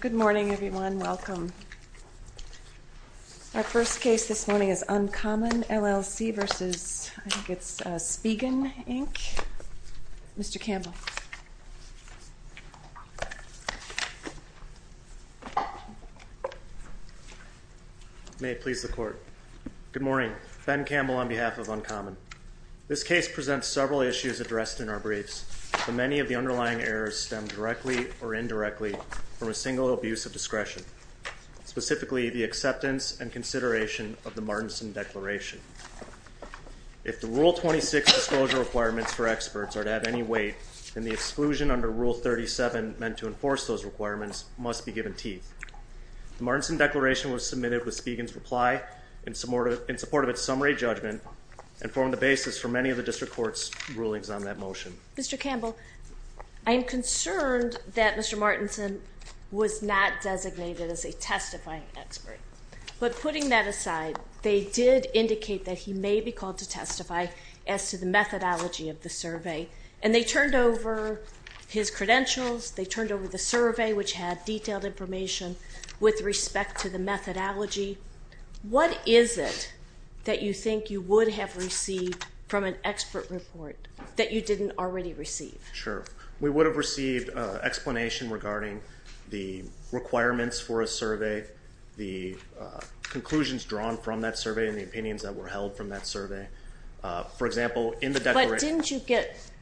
Good morning, everyone. Welcome. Our first case this morning is Uncommon, LLC v. Spigen, Inc. Mr. Campbell. May it please the Court. Good morning. Ben Campbell on behalf of Uncommon. This case presents several issues addressed in our briefs, but many of the underlying errors stem directly or indirectly from a single abuse of discretion, specifically the acceptance and consideration of the Martinson Declaration. If the Rule 26 disclosure requirements for experts are to have any weight, then the exclusion under Rule 37 meant to enforce those requirements must be given teeth. The Martinson Declaration was submitted with Spigen's reply in support of its summary judgment and formed the basis for many of the District Court's rulings on that motion. Mr. Campbell, I am concerned that Mr. Martinson was not designated as a testifying expert. But putting that aside, they did indicate that he may be called to testify as to the methodology of the survey, and they turned over his credentials, they turned over the survey, which had detailed information with respect to the methodology. What is it that you think you would have received from an expert report that you didn't already receive? Sure. We would have received an explanation regarding the requirements for a survey, the conclusions drawn from that survey, and the opinions that were held from that survey. For example, in the declaration – But didn't you get –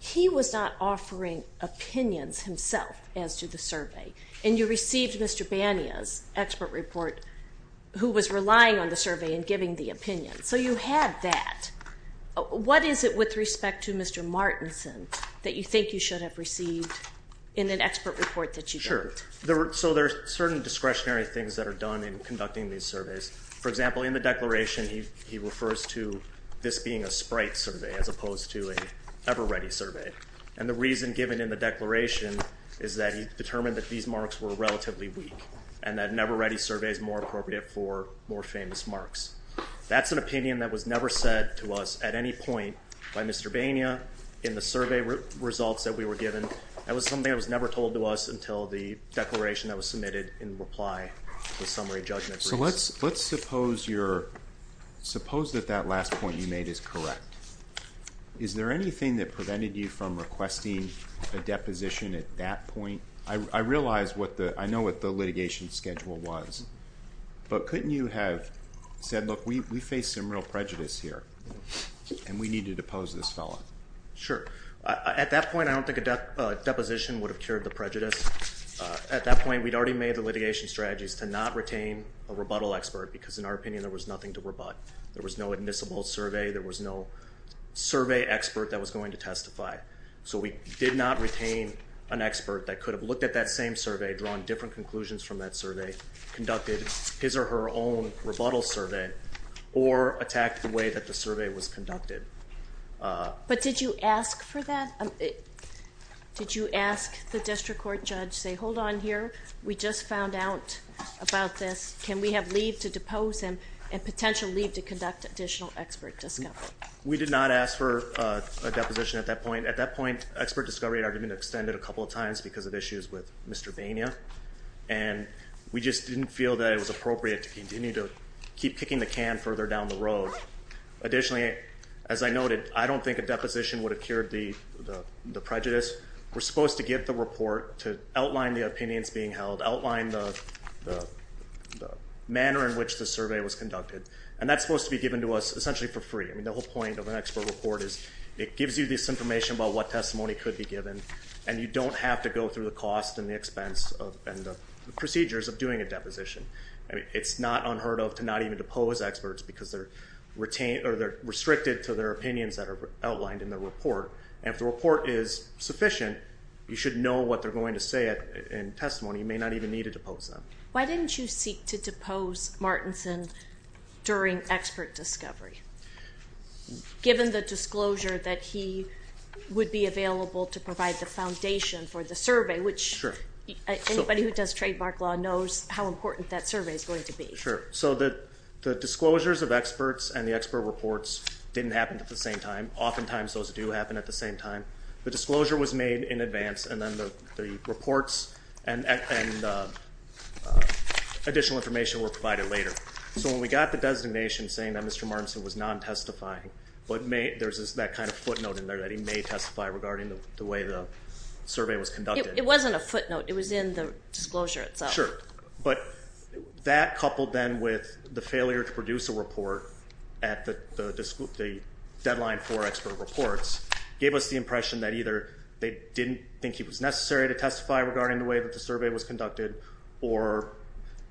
he was not offering opinions himself as to the survey, and you received Mr. Bania's expert report, who was relying on the survey and giving the opinion. So you had that. What is it with respect to Mr. Martinson that you think you should have received in an expert report that you didn't? Sure. So there are certain discretionary things that are done in conducting these surveys. For example, in the declaration, he refers to this being a sprite survey as opposed to an ever-ready survey. And the reason given in the declaration is that he determined that these marks were relatively weak and that an ever-ready survey is more appropriate for more famous marks. That's an opinion that was never said to us at any point by Mr. Bania in the survey results that we were given. That was something that was never told to us until the declaration that was submitted in reply to the summary judgment briefs. So let's suppose that that last point you made is correct. Is there anything that prevented you from requesting a deposition at that point? I realize what the litigation schedule was, but couldn't you have said, look, we face some real prejudice here, and we need to depose this fellow? Sure. At that point, I don't think a deposition would have cured the prejudice. At that point, we'd already made the litigation strategies to not retain a rebuttal expert because, in our opinion, there was nothing to rebut. There was no admissible survey. There was no survey expert that was going to testify. So we did not retain an expert that could have looked at that same survey, drawn different conclusions from that survey, conducted his or her own rebuttal survey, or attacked the way that the survey was conducted. But did you ask for that? Did you ask the district court judge, say, hold on here, we just found out about this. Can we have leave to depose him and potential leave to conduct additional expert discovery? We did not ask for a deposition at that point. At that point, expert discovery had already been extended a couple of times because of issues with Mr. Bania, and we just didn't feel that it was appropriate to continue to keep kicking the can further down the road. Additionally, as I noted, I don't think a deposition would have cured the prejudice. We're supposed to get the report to outline the opinions being held, outline the manner in which the survey was conducted, and that's supposed to be given to us essentially for free. I mean, the whole point of an expert report is it gives you this information about what testimony could be given, and you don't have to go through the cost and the expense and the procedures of doing a deposition. It's not unheard of to not even depose experts because they're restricted to their opinions that are outlined in the report. And if the report is sufficient, you should know what they're going to say in testimony. You may not even need to depose them. Why didn't you seek to depose Martinson during expert discovery, given the disclosure that he would be available to provide the foundation for the survey, which anybody who does trademark law knows how important that survey is going to be. Sure. So the disclosures of experts and the expert reports didn't happen at the same time. Oftentimes those do happen at the same time. The disclosure was made in advance, and then the reports and additional information were provided later. So when we got the designation saying that Mr. Martinson was non-testifying, there's that kind of footnote in there that he may testify regarding the way the survey was conducted. It wasn't a footnote. It was in the disclosure itself. Sure. But that coupled then with the failure to produce a report at the deadline for expert reports gave us the impression that either they didn't think he was necessary to testify regarding the way that the survey was conducted or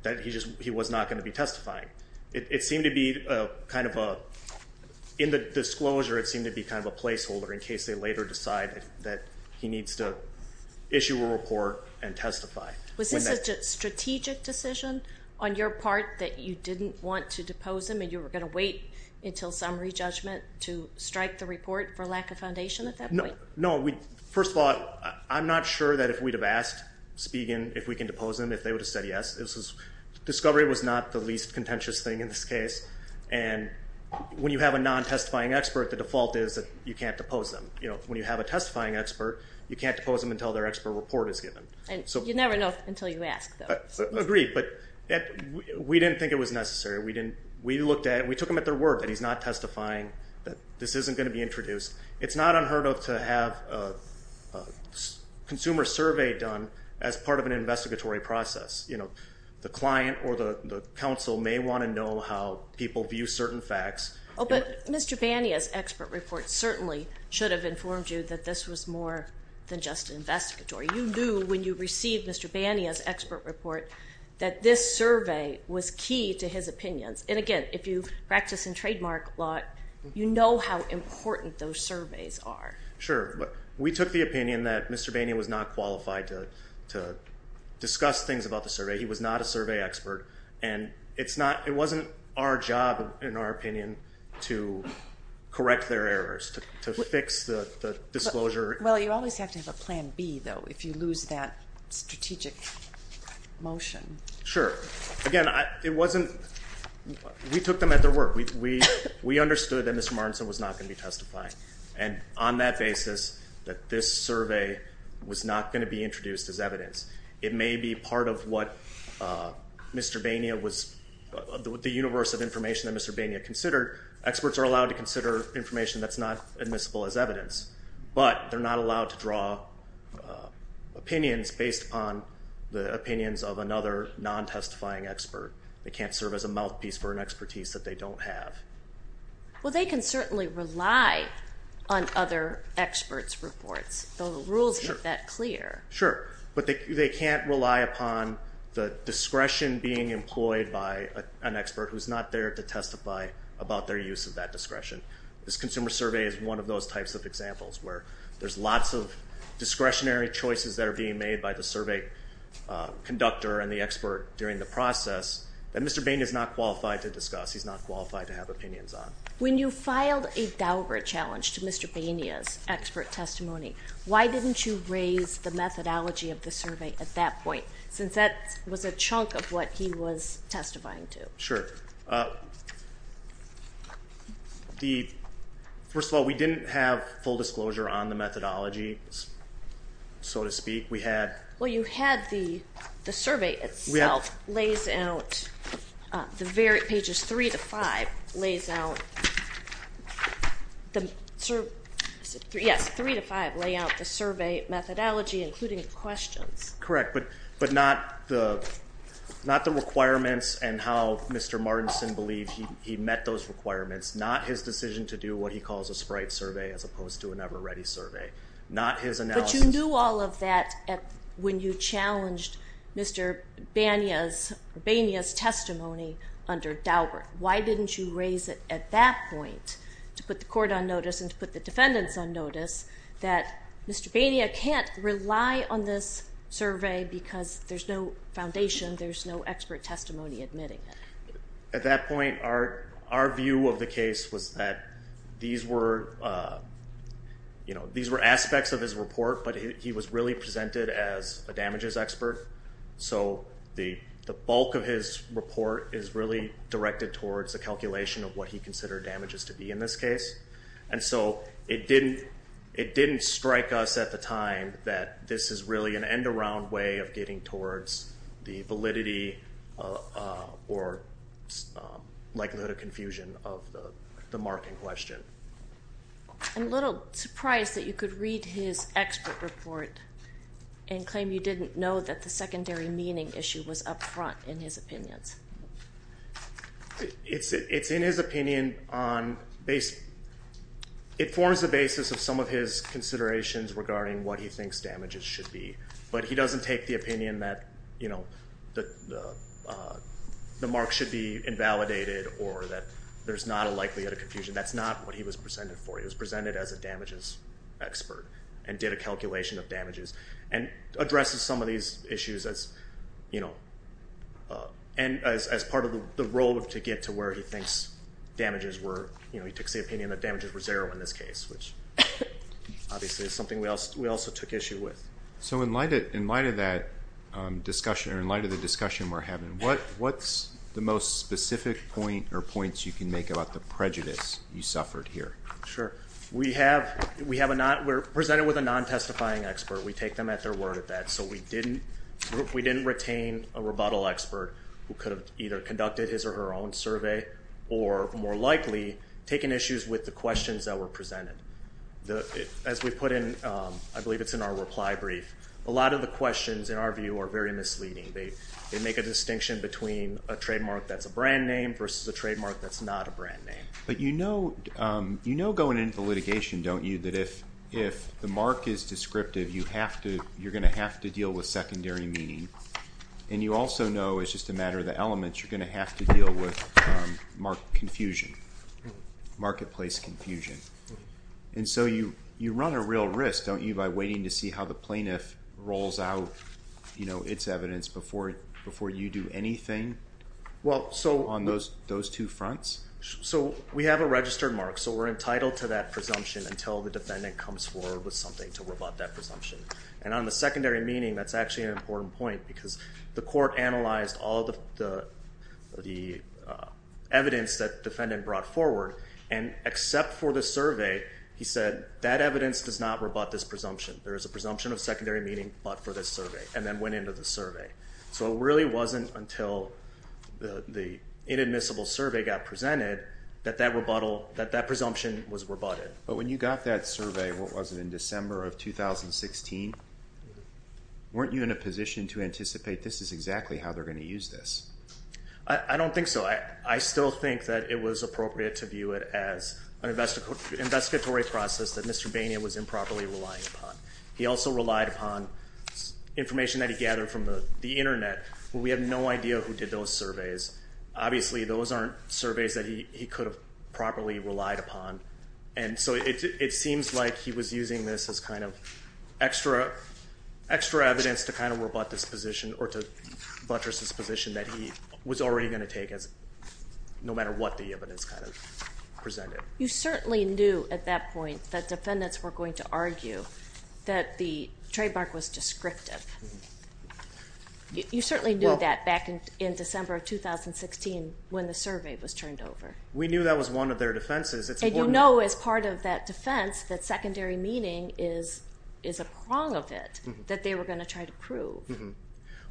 that he was not going to be testifying. It seemed to be kind of a, in the disclosure it seemed to be kind of a placeholder in case they later decide that he needs to issue a report and testify. Was this a strategic decision on your part that you didn't want to depose him and you were going to wait until summary judgment to strike the report for lack of foundation at that point? No. First of all, I'm not sure that if we'd have asked Spigen if we can depose him if they would have said yes. Discovery was not the least contentious thing in this case. And when you have a non-testifying expert, the default is that you can't depose them. When you have a testifying expert, you can't depose them until their expert report is given. You never know until you ask, though. Agreed, but we didn't think it was necessary. We looked at it and we took him at their word that he's not testifying, that this isn't going to be introduced. It's not unheard of to have a consumer survey done as part of an investigatory process. The client or the counsel may want to know how people view certain facts. Oh, but Mr. Bania's expert report certainly should have informed you that this was more than just investigatory. You knew when you received Mr. Bania's expert report that this survey was key to his opinions. And, again, if you practice in trademark law, you know how important those surveys are. Sure, but we took the opinion that Mr. Bania was not qualified to discuss things about the survey. He was not a survey expert, and it wasn't our job, in our opinion, to correct their errors, to fix the disclosure. Well, you always have to have a plan B, though, if you lose that strategic motion. Sure. Again, it wasn't we took them at their word. We understood that Mr. Martinson was not going to be testifying. And on that basis, that this survey was not going to be introduced as evidence. It may be part of what Mr. Bania was the universe of information that Mr. Bania considered. Experts are allowed to consider information that's not admissible as evidence. But they're not allowed to draw opinions based upon the opinions of another non-testifying expert. They can't serve as a mouthpiece for an expertise that they don't have. Well, they can certainly rely on other experts' reports. The rules make that clear. Sure. But they can't rely upon the discretion being employed by an expert who's not there to testify about their use of that discretion. This consumer survey is one of those types of examples where there's lots of discretionary choices that are being made by the survey conductor and the expert during the process that Mr. Bania is not qualified to discuss. He's not qualified to have opinions on. When you filed a Daubert challenge to Mr. Bania's expert testimony, why didn't you raise the methodology of the survey at that point since that was a chunk of what he was testifying to? Sure. First of all, we didn't have full disclosure on the methodology, so to speak. Well, you had the survey itself lays out the pages 3 to 5 lays out the survey methodology, including the questions. Correct, but not the requirements and how Mr. Martinson believed he met those requirements, not his decision to do what he calls a sprite survey as opposed to an ever-ready survey, not his analysis. But you knew all of that when you challenged Mr. Bania's testimony under Daubert. Why didn't you raise it at that point to put the court on notice and to put the defendants on notice that Mr. Bania can't rely on this survey because there's no foundation, there's no expert testimony admitting it? At that point, our view of the case was that these were aspects of his report, but he was really presented as a damages expert, so the bulk of his report is really directed towards a calculation of what he considered damages to be in this case. And so it didn't strike us at the time that this is really an end-around way of getting towards the validity or likelihood of confusion of the marking question. I'm a little surprised that you could read his expert report and claim you didn't know that the secondary meaning issue was up front in his opinions. It's in his opinion on, it forms the basis of some of his considerations regarding what he thinks damages should be, but he doesn't take the opinion that the mark should be invalidated or that there's not a likelihood of confusion. That's not what he was presented for. He was presented as a damages expert and did a calculation of damages and addresses some of these issues as part of the road to get to where he thinks damages were, he takes the opinion that damages were zero in this case, which obviously is something we also took issue with. So in light of that discussion or in light of the discussion we're having, what's the most specific point or points you can make about the prejudice you suffered here? Sure. We're presented with a non-testifying expert. We take them at their word at that. So we didn't retain a rebuttal expert who could have either conducted his or her own survey or more likely taken issues with the questions that were presented. As we put in, I believe it's in our reply brief, a lot of the questions in our view are very misleading. They make a distinction between a trademark that's a brand name versus a trademark that's not a brand name. But you know going into litigation, don't you, that if the mark is descriptive, you're going to have to deal with secondary meaning, and you also know it's just a matter of the elements. You're going to have to deal with confusion, marketplace confusion. And so you run a real risk, don't you, by waiting to see how the plaintiff rolls out its evidence before you do anything on those two fronts? So we have a registered mark, so we're entitled to that presumption until the defendant comes forward with something to rebut that presumption. And on the secondary meaning, that's actually an important point because the court analyzed all the evidence that the defendant brought forward, and except for the survey, he said that evidence does not rebut this presumption. There is a presumption of secondary meaning but for this survey, and then went into the survey. So it really wasn't until the inadmissible survey got presented that that presumption was rebutted. But when you got that survey, what was it, in December of 2016? Weren't you in a position to anticipate this is exactly how they're going to use this? I don't think so. I still think that it was appropriate to view it as an investigatory process that Mr. Bania was improperly relying upon. He also relied upon information that he gathered from the Internet, but we have no idea who did those surveys. Obviously, those aren't surveys that he could have properly relied upon. And so it seems like he was using this as kind of extra evidence to kind of rebut this position or to buttress this position that he was already going to take no matter what the evidence kind of presented. You certainly knew at that point that defendants were going to argue that the trademark was descriptive. You certainly knew that back in December of 2016 when the survey was turned over. We knew that was one of their defenses. And you know as part of that defense that secondary meaning is a prong of it that they were going to try to prove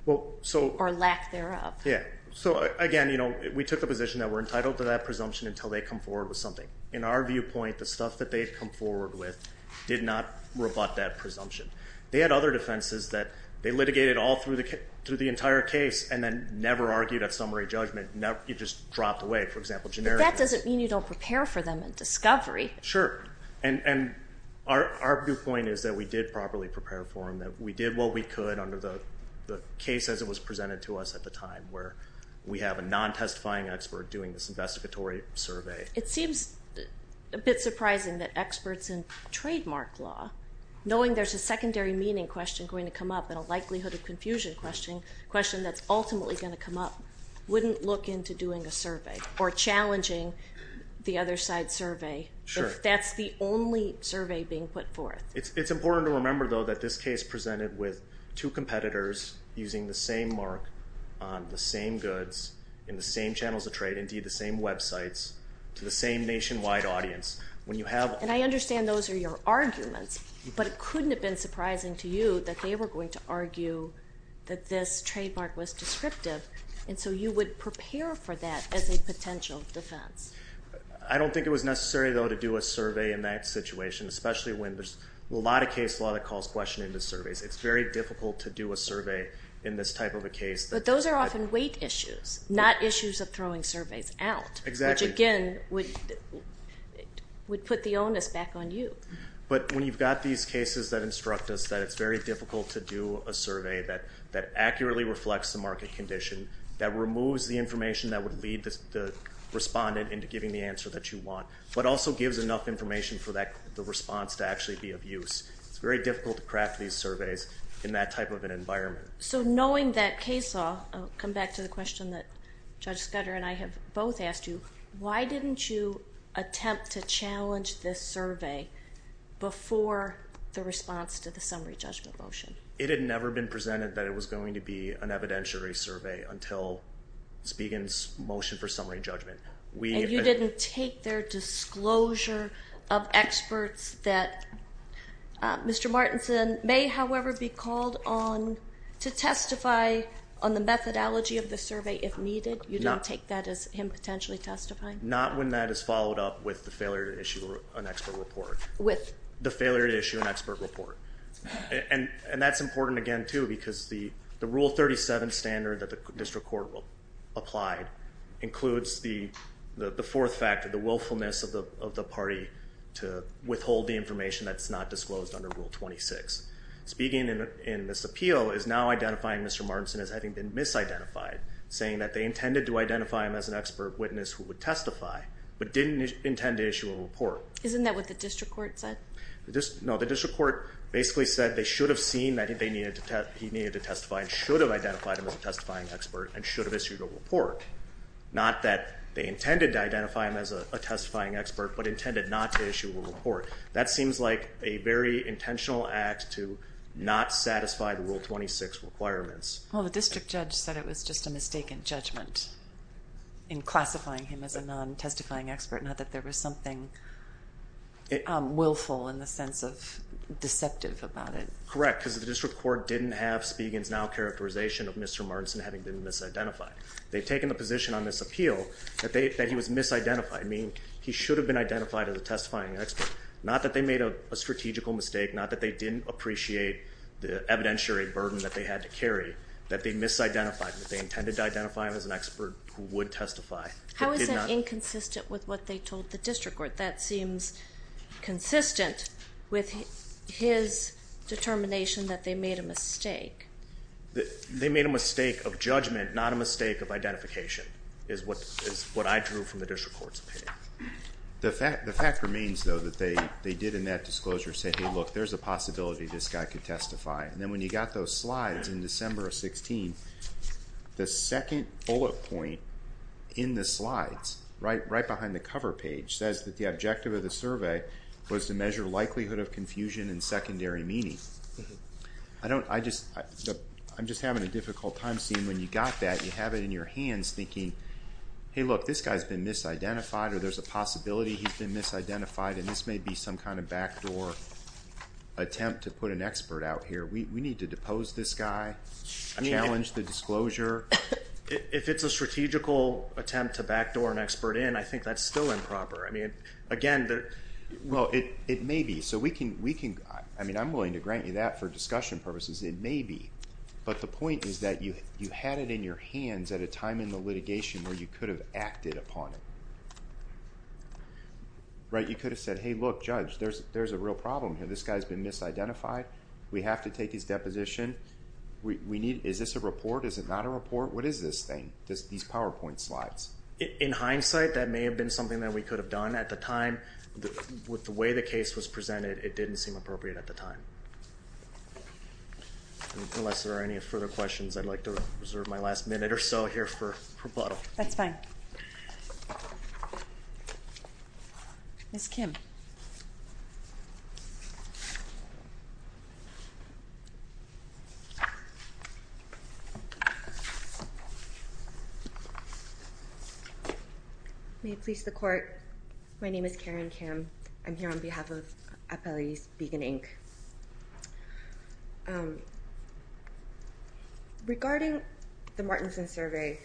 or lack thereof. Yeah, so again, we took a position that we're entitled to that presumption until they come forward with something. In our viewpoint, the stuff that they've come forward with did not rebut that presumption. They had other defenses that they litigated all through the entire case and then never argued at summary judgment. It just dropped away, for example, generically. But that doesn't mean you don't prepare for them in discovery. Sure, and our viewpoint is that we did properly prepare for them, that we did what we could under the case as it was presented to us at the time where we have a non-testifying expert doing this investigatory survey. It seems a bit surprising that experts in trademark law, knowing there's a secondary meaning question going to come up and a likelihood of confusion question that's ultimately going to come up, wouldn't look into doing a survey or challenging the other side's survey if that's the only survey being put forth. It's important to remember, though, that this case presented with two competitors using the same mark on the same goods in the same channels of trade, indeed the same websites, to the same nationwide audience. And I understand those are your arguments, but it couldn't have been surprising to you that they were going to argue that this trademark was descriptive, and so you would prepare for that as a potential defense. I don't think it was necessary, though, to do a survey in that situation, especially when there's a lot of case law that calls question into surveys. It's very difficult to do a survey in this type of a case. But those are often weight issues, not issues of throwing surveys out. Exactly. Which, again, would put the onus back on you. But when you've got these cases that instruct us that it's very difficult to do a survey that accurately reflects the market condition, that removes the information that would lead the respondent into giving the answer that you want, but also gives enough information for the response to actually be of use, it's very difficult to craft these surveys in that type of an environment. So knowing that case law, I'll come back to the question that Judge Scudder and I have both asked you, why didn't you attempt to challenge this survey before the response to the summary judgment motion? It had never been presented that it was going to be an evidentiary survey until Spiegan's motion for summary judgment. And you didn't take their disclosure of experts that Mr. Martinson may, however, be called on to testify on the methodology of the survey if needed? You didn't take that as him potentially testifying? Not when that is followed up with the failure to issue an expert report. With? The failure to issue an expert report. And that's important, again, too, because the Rule 37 standard that the district court applied includes the fourth factor, the willfulness of the party to withhold the information that's not disclosed under Rule 26. Spiegan in this appeal is now identifying Mr. Martinson as having been misidentified, saying that they intended to identify him as an expert witness who would testify, but didn't intend to issue a report. Isn't that what the district court said? No. The district court basically said they should have seen that he needed to testify and should have identified him as a testifying expert and should have issued a report, not that they intended to identify him as a testifying expert but intended not to issue a report. That seems like a very intentional act to not satisfy the Rule 26 requirements. Well, the district judge said it was just a mistaken judgment in classifying him as a non-testifying expert, not that there was something willful in the sense of deceptive about it. Correct, because the district court didn't have Spiegan's now characterization of Mr. Martinson having been misidentified. They've taken the position on this appeal that he was misidentified, meaning he should have been identified as a testifying expert, not that they made a strategical mistake, that they misidentified him, that they intended to identify him as an expert who would testify. How is that inconsistent with what they told the district court? That seems consistent with his determination that they made a mistake. They made a mistake of judgment, not a mistake of identification, is what I drew from the district court's opinion. The fact remains, though, that they did in that disclosure say, hey, look, there's a possibility this guy could testify. And then when you got those slides in December of 2016, the second bullet point in the slides, right behind the cover page, says that the objective of the survey was to measure likelihood of confusion and secondary meaning. I'm just having a difficult time seeing when you got that. You have it in your hands thinking, hey, look, this guy's been misidentified or there's a possibility he's been misidentified, and this may be some kind of backdoor attempt to put an expert out here. We need to depose this guy, challenge the disclosure. If it's a strategical attempt to backdoor an expert in, I think that's still improper. Again, there's – Well, it may be. I'm willing to grant you that for discussion purposes. It may be. But the point is that you had it in your hands at a time in the litigation where you could have acted upon it. Right? You could have said, hey, look, Judge, there's a real problem here. This guy's been misidentified. We have to take his deposition. Is this a report? Is it not a report? What is this thing, these PowerPoint slides? In hindsight, that may have been something that we could have done at the time. With the way the case was presented, it didn't seem appropriate at the time. Unless there are any further questions, I'd like to reserve my last minute or so here for rebuttal. That's fine. Ms. Kim. May it please the Court, my name is Karen Kim. I'm here on behalf of Appellees Vegan, Inc. Regarding the Martinson survey,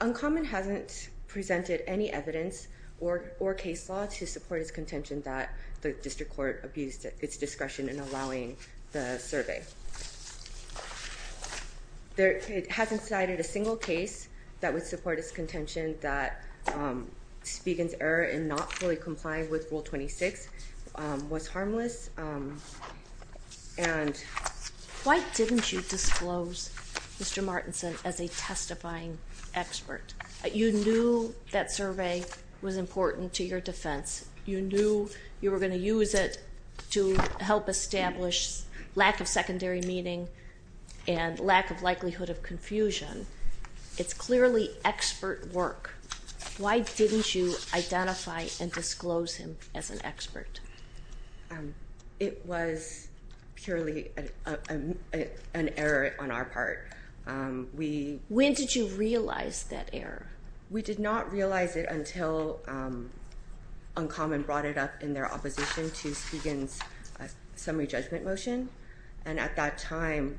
Uncommon hasn't presented any evidence or case law to support its contention that the district court abused its discretion in allowing the survey. It hasn't cited a single case that would support its contention that Vegan's error in not fully complying with Rule 26 was harmless. Why didn't you disclose Mr. Martinson as a testifying expert? You knew that survey was important to your defense. You knew you were going to use it to help establish lack of secondary meaning and lack of likelihood of confusion. It's clearly expert work. Why didn't you identify and disclose him as an expert? It was purely an error on our part. When did you realize that error? We did not realize it until Uncommon brought it up in their opposition to Vegan's summary judgment motion. At that time,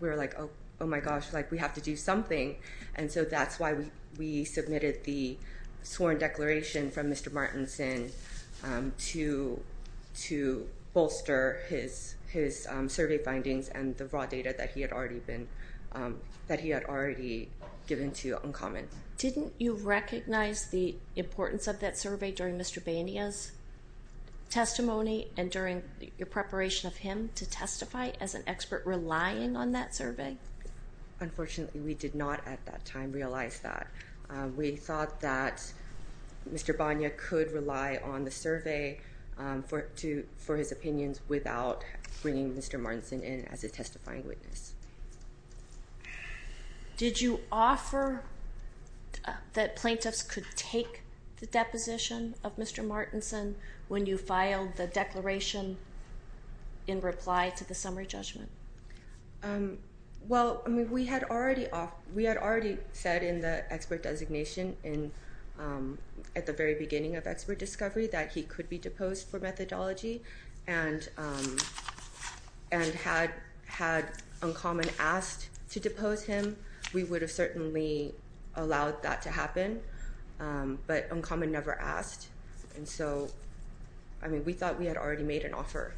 we were like, oh my gosh, we have to do something. And so that's why we submitted the sworn declaration from Mr. Martinson to bolster his survey findings and the raw data that he had already given to Uncommon. Didn't you recognize the importance of that survey during Mr. Bania's testimony and during your preparation of him to testify as an expert relying on that survey? Unfortunately, we did not at that time realize that. We thought that Mr. Bania could rely on the survey for his opinions without bringing Mr. Martinson in as a testifying witness. Did you offer that plaintiffs could take the deposition of Mr. Martinson when you filed the declaration in reply to the summary judgment? We had already said in the expert designation at the very beginning of expert discovery that he could be deposed for methodology, and had Uncommon asked to depose him, we would have certainly allowed that to happen. But Uncommon never asked, and so we thought we had already made an offer.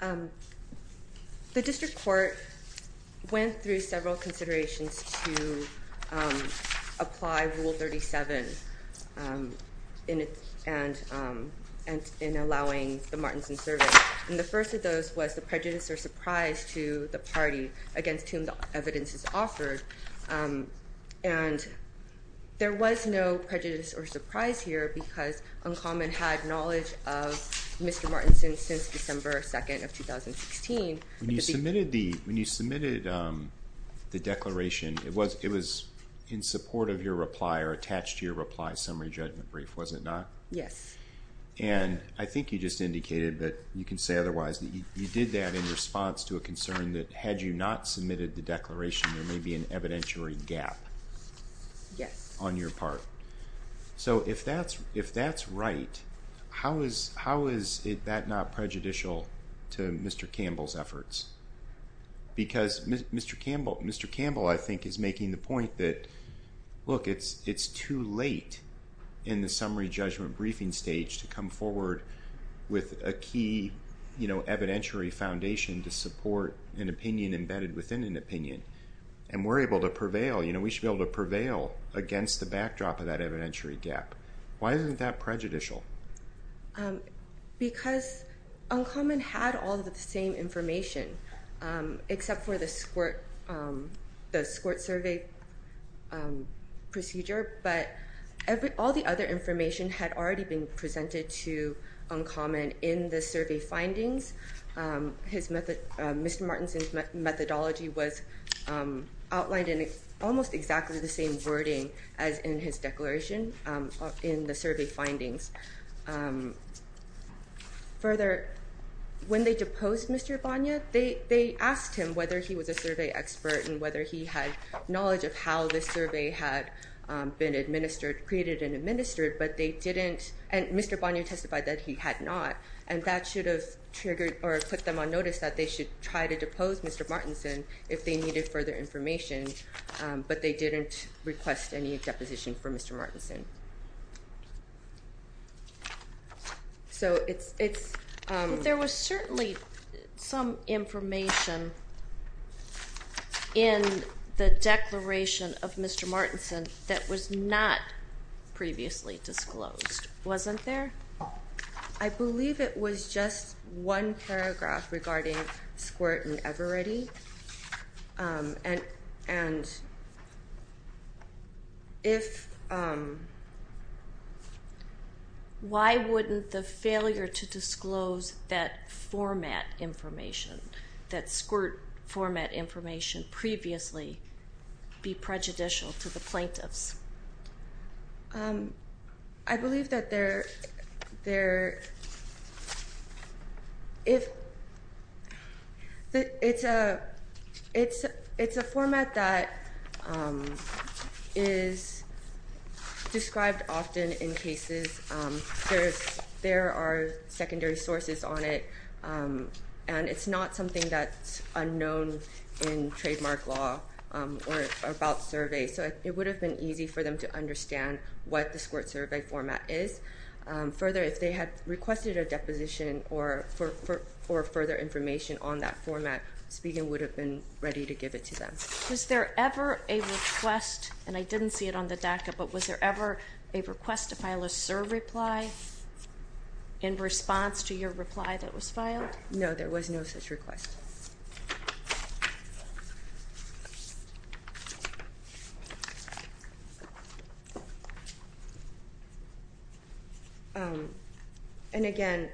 The district court went through several considerations to apply Rule 37 in allowing the Martinson survey. And the first of those was the prejudice or surprise to the party against whom the evidence is offered, and there was no prejudice or surprise here because Uncommon had knowledge of Mr. Martinson since December 2nd of 2016. When you submitted the declaration, it was in support of your reply or attached to your reply summary judgment brief, was it not? Yes. And I think you just indicated, but you can say otherwise, that you did that in response to a concern that had you not submitted the declaration, there may be an evidentiary gap on your part. So if that's right, how is that not prejudicial to Mr. Campbell's efforts? Because Mr. Campbell, I think, is making the point that, look, it's too late in the summary judgment briefing stage to come forward with a key evidentiary foundation to support an opinion embedded within an opinion. And we're able to prevail. We should be able to prevail against the backdrop of that evidentiary gap. Why isn't that prejudicial? Because Uncommon had all of the same information, except for the squirt survey procedure, but all the other information had already been presented to Uncommon in the survey findings. Mr. Martinson's methodology was outlined in almost exactly the same wording as in his declaration in the survey findings. Further, when they deposed Mr. Banya, they asked him whether he was a survey expert and whether he had knowledge of how this survey had been created and administered, but they didn't. And Mr. Banya testified that he had not. And that should have triggered or put them on notice that they should try to depose Mr. Martinson if they needed further information, but they didn't request any deposition for Mr. Martinson. There was certainly some information in the declaration of Mr. Martinson that was not previously disclosed, wasn't there? I believe it was just one paragraph regarding squirt and Ever-Ready. Why wouldn't the failure to disclose that format information, that squirt format information, previously be prejudicial to the plaintiffs? I believe that it's a format that is described often in cases. There are secondary sources on it, and it's not something that's unknown in trademark law or about surveys, so it would have been easy for them to understand what the squirt survey format is. Further, if they had requested a deposition or further information on that format, Spiegel would have been ready to give it to them. Was there ever a request, and I didn't see it on the DACA, but was there ever a request to file a SIR reply in response to your reply that was filed? No, there was no such request. And again,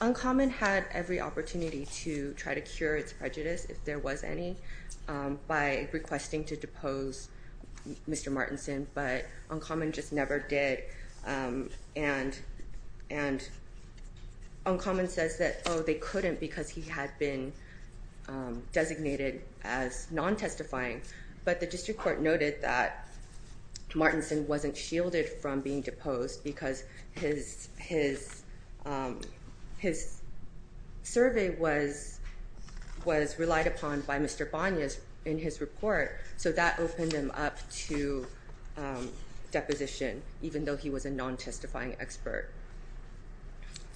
Uncommon had every opportunity to try to cure its prejudice, if there was any, by requesting to depose Mr. Martinson, but Uncommon just never did. And Uncommon says that, oh, they couldn't because he had been designated as non-testifying, but the district court noted that Martinson wasn't shielded from being deposed because his survey was relied upon by Mr. Bonias in his report, so that opened him up to deposition, even though he was a non-testifying expert.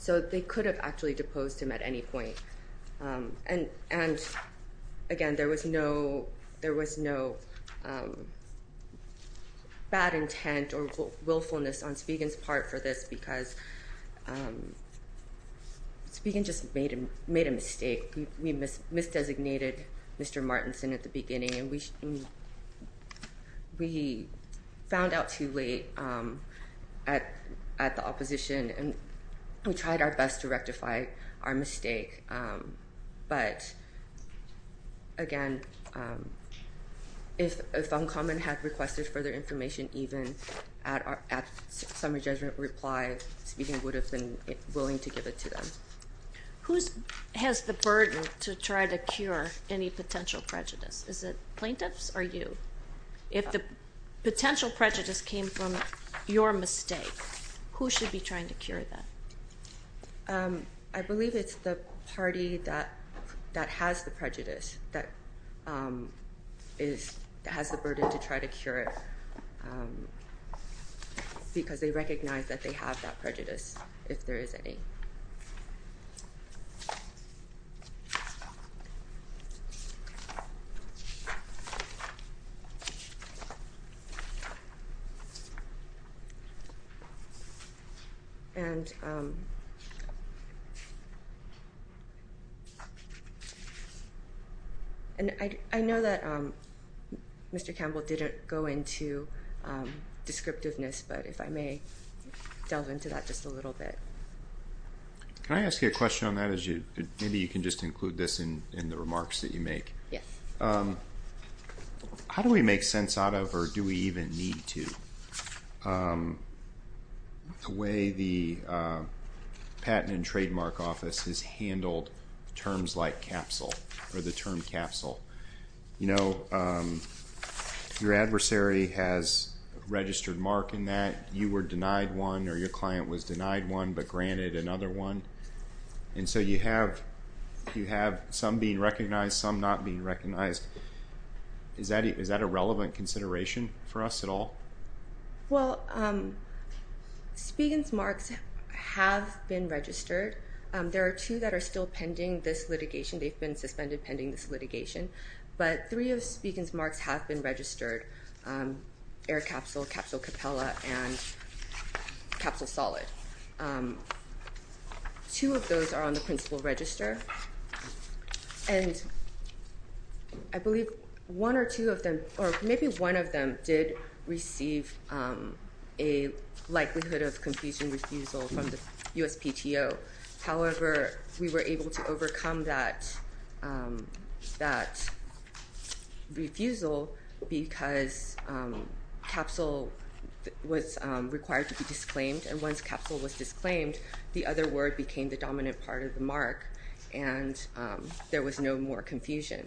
So they could have actually deposed him at any point. And again, there was no bad intent or willfulness on Spiegel's part for this because Spiegel just made a mistake. We mis-designated Mr. Martinson at the beginning, and we found out too late at the opposition, and we tried our best to rectify our mistake. But again, if Uncommon had requested further information, even at summary judgment reply, Spiegel would have been willing to give it to them. Who has the burden to try to cure any potential prejudice? Is it plaintiffs or you? If the potential prejudice came from your mistake, who should be trying to cure that? I believe it's the party that has the prejudice that has the burden to try to cure it because they recognize that they have that prejudice, if there is any. And I know that Mr. Campbell didn't go into descriptiveness, but if I may delve into that just a little bit. Can I ask you a question on that? Maybe you can just include this in the remarks that you make. Yes. How do we make sense out of, or do we even need to, the way the Patent and Trademark Office has handled terms like capsule, or the term capsule? Your adversary has registered mark in that. You were denied one, or your client was denied one, but granted another one. And so you have some being recognized, some not being recognized. Is that a relevant consideration for us at all? Well, Spiegel's marks have been registered. There are two that are still pending this litigation. They've been suspended pending this litigation. But three of Spiegel's marks have been registered, air capsule, capsule capella, and capsule solid. Two of those are on the principal register. And I believe one or two of them, or maybe one of them, did receive a likelihood of confusion refusal from the USPTO. However, we were able to overcome that refusal because capsule was required to be disclaimed. And once capsule was disclaimed, the other word became the dominant part of the mark, and there was no more confusion.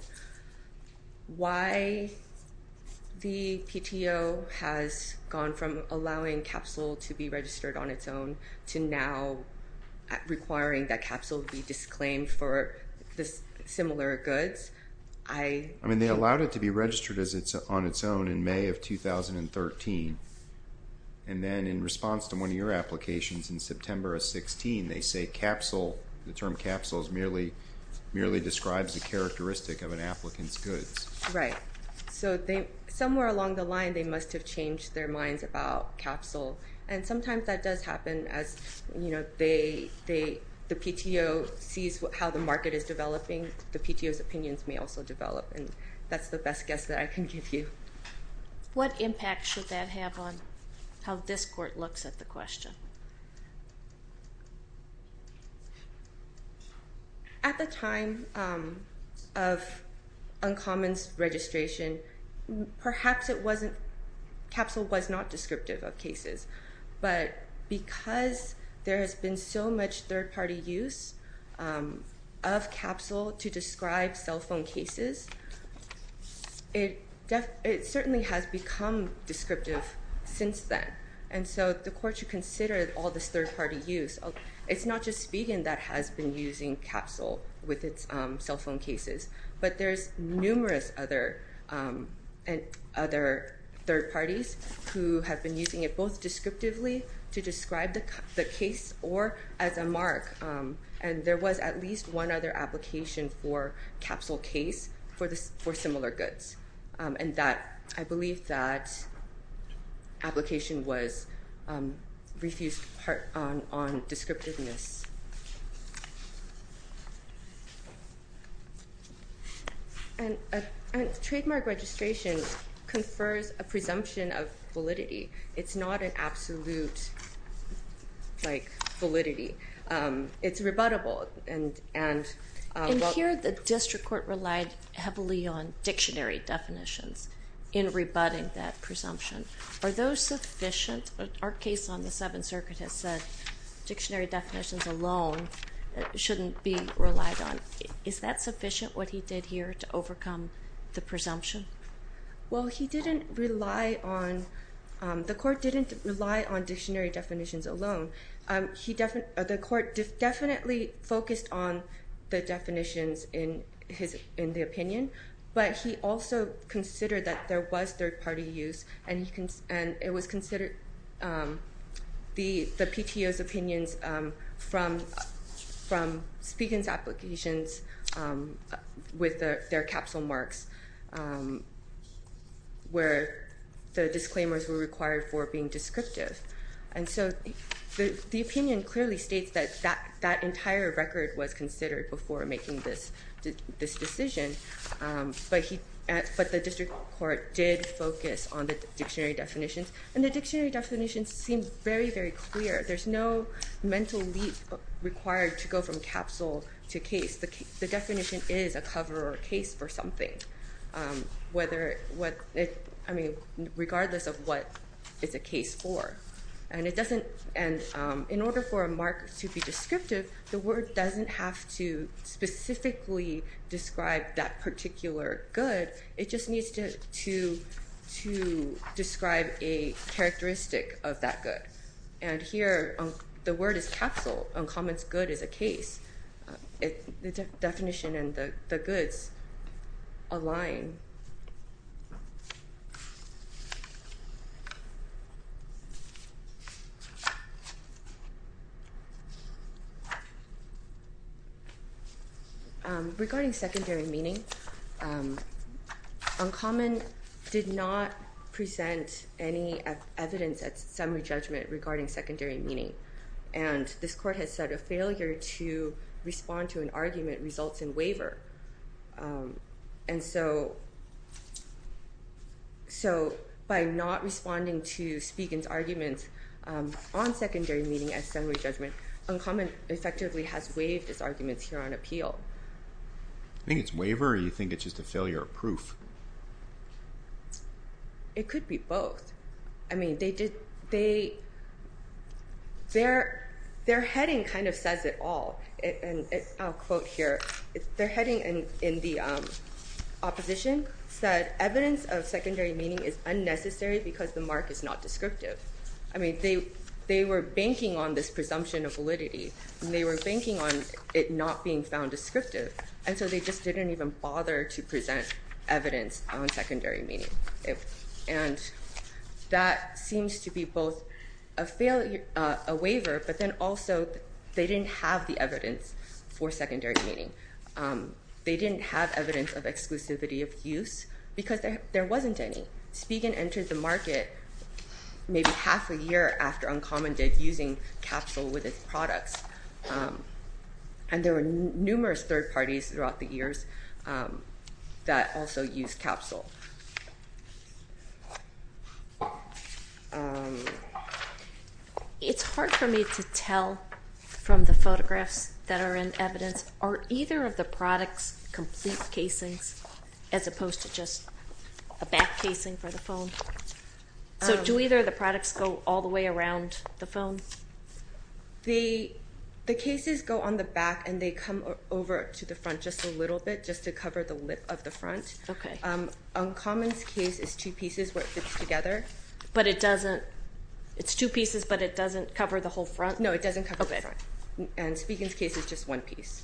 Why the PTO has gone from allowing capsule to be registered on its own to now requiring that capsule be disclaimed for similar goods? I mean, they allowed it to be registered as it's on its own in May of 2013. And then in response to one of your applications in September of 16, they say capsule, the term capsule merely describes the characteristic of an applicant's goods. Right. So somewhere along the line, they must have changed their minds about capsule. And sometimes that does happen as, you know, the PTO sees how the market is developing, the PTO's opinions may also develop. And that's the best guess that I can give you. What impact should that have on how this court looks at the question? At the time of Uncommon's registration, perhaps it wasn't – capsule was not descriptive of cases. But because there has been so much third-party use of capsule to describe cell phone cases, it certainly has become descriptive since then. And so the court should consider all this third-party use. It's not just Spigen that has been using capsule with its cell phone cases, but there's numerous other third parties who have been using it both descriptively to describe the case or as a mark. And there was at least one other application for capsule case for similar goods. And that – I believe that application was – refused part on descriptiveness. And trademark registration confers a presumption of validity. It's not an absolute, like, validity. It's rebuttable. And here the district court relied heavily on dictionary definitions in rebutting that presumption. Are those sufficient? Our case on the Seventh Circuit has said dictionary definitions alone shouldn't be relied on. Is that sufficient, what he did here, to overcome the presumption? Well, he didn't rely on – the court didn't rely on dictionary definitions alone. The court definitely focused on the definitions in the opinion, but he also considered that there was third-party use. And it was considered the PTO's opinions from Spigen's applications with their capsule marks where the disclaimers were required for being descriptive. And so the opinion clearly states that that entire record was considered before making this decision. But he – but the district court did focus on the dictionary definitions, and the dictionary definitions seem very, very clear. There's no mental leap required to go from capsule to case. The definition is a cover or a case for something, whether – I mean, regardless of what it's a case for. And it doesn't – and in order for a mark to be descriptive, the word doesn't have to specifically describe that particular good. It just needs to describe a characteristic of that good. And here, the word is capsule. Uncommon's good is a case. The definition and the goods align. Regarding secondary meaning, Uncommon did not present any evidence at summary judgment regarding secondary meaning. And this court has said a failure to respond to an argument results in waiver. And so by not responding to Spigen's arguments on secondary meaning at summary judgment, Uncommon effectively has waived its arguments here on appeal. I think it's waiver, or you think it's just a failure of proof? It could be both. I mean, they did – they – their heading kind of says it all. And I'll quote here. Their heading in the opposition said evidence of secondary meaning is unnecessary because the mark is not descriptive. I mean, they were banking on this presumption of validity, and they were banking on it not being found descriptive. And so they just didn't even bother to present evidence on secondary meaning. And that seems to be both a waiver, but then also they didn't have the evidence for secondary meaning. They didn't have evidence of exclusivity of use because there wasn't any. Spigen entered the market maybe half a year after Uncommon did, using capsule with its products. And there were numerous third parties throughout the years that also used capsule. It's hard for me to tell from the photographs that are in evidence. Are either of the products complete casings as opposed to just a back casing for the phone? So do either of the products go all the way around the phone? The cases go on the back, and they come over to the front just a little bit just to cover the lip of the front. Okay. Uncommon's case is two pieces where it fits together. But it doesn't – it's two pieces, but it doesn't cover the whole front? No, it doesn't cover the front. Okay. And Spigen's case is just one piece.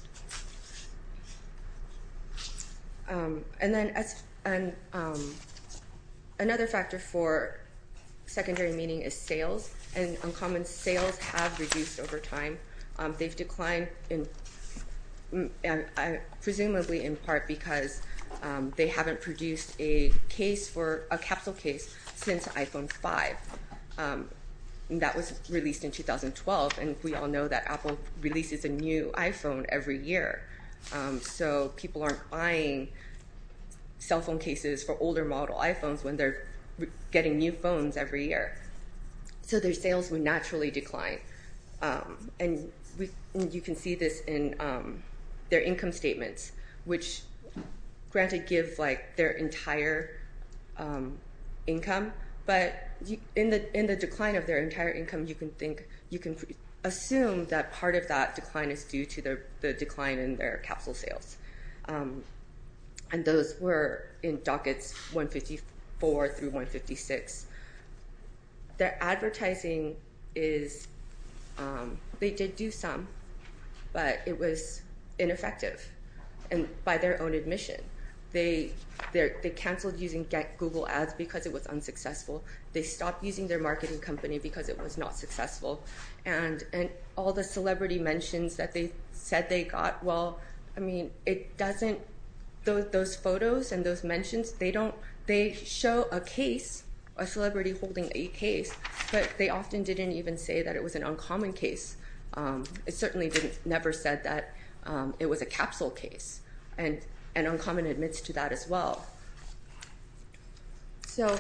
And then another factor for secondary meaning is sales. And Uncommon's sales have reduced over time. They've declined presumably in part because they haven't produced a case for – a capsule case since iPhone 5. That was released in 2012. And we all know that Apple releases a new iPhone every year. So people aren't buying cell phone cases for older model iPhones when they're getting new phones every year. So their sales would naturally decline. And you can see this in their income statements, which, granted, give their entire income. But in the decline of their entire income, you can assume that part of that decline is due to the decline in their capsule sales. And those were in dockets 154 through 156. Their advertising is – they did do some, but it was ineffective by their own admission. They canceled using Google Ads because it was unsuccessful. They stopped using their marketing company because it was not successful. And all the celebrity mentions that they said they got, well, I mean, it doesn't – those photos and those mentions, they don't – they show a case, a celebrity holding a case, but they often didn't even say that it was an Uncommon case. It certainly didn't – never said that it was a capsule case. And Uncommon admits to that as well. So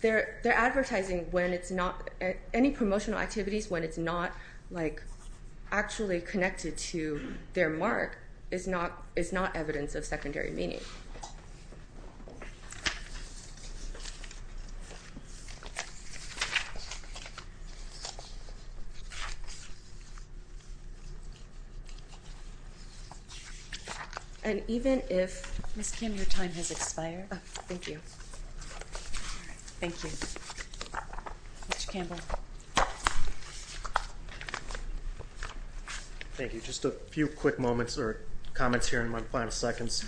they're advertising when it's not – any promotional activities when it's not, like, actually connected to their mark is not evidence of secondary meaning. And even if – Ms. Kim, your time has expired. Oh, thank you. All right. Thank you. Mr. Campbell. Thank you. Just a few quick moments or comments here in my final seconds.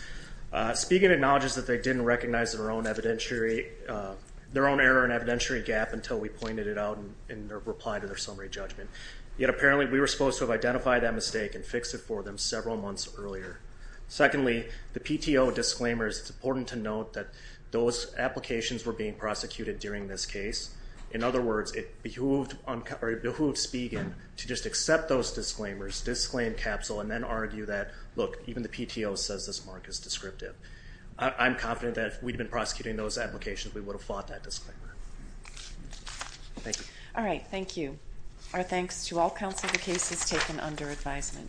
Speaking acknowledges that they didn't recognize their own evidentiary – their own error and evidentiary gap until we pointed it out in their reply to their summary judgment. Yet apparently we were supposed to have identified that mistake and fixed it for them several months earlier. Secondly, the PTO disclaimers, it's important to note that those applications were being prosecuted during this case. In other words, it behooved – or it behooved Spigen to just accept those disclaimers, disclaim capsule, and then argue that, look, even the PTO says this mark is descriptive. I'm confident that if we'd been prosecuting those applications, we would have fought that disclaimer. Thank you. All right. Thank you. Our thanks to all counsel for cases taken under advisement.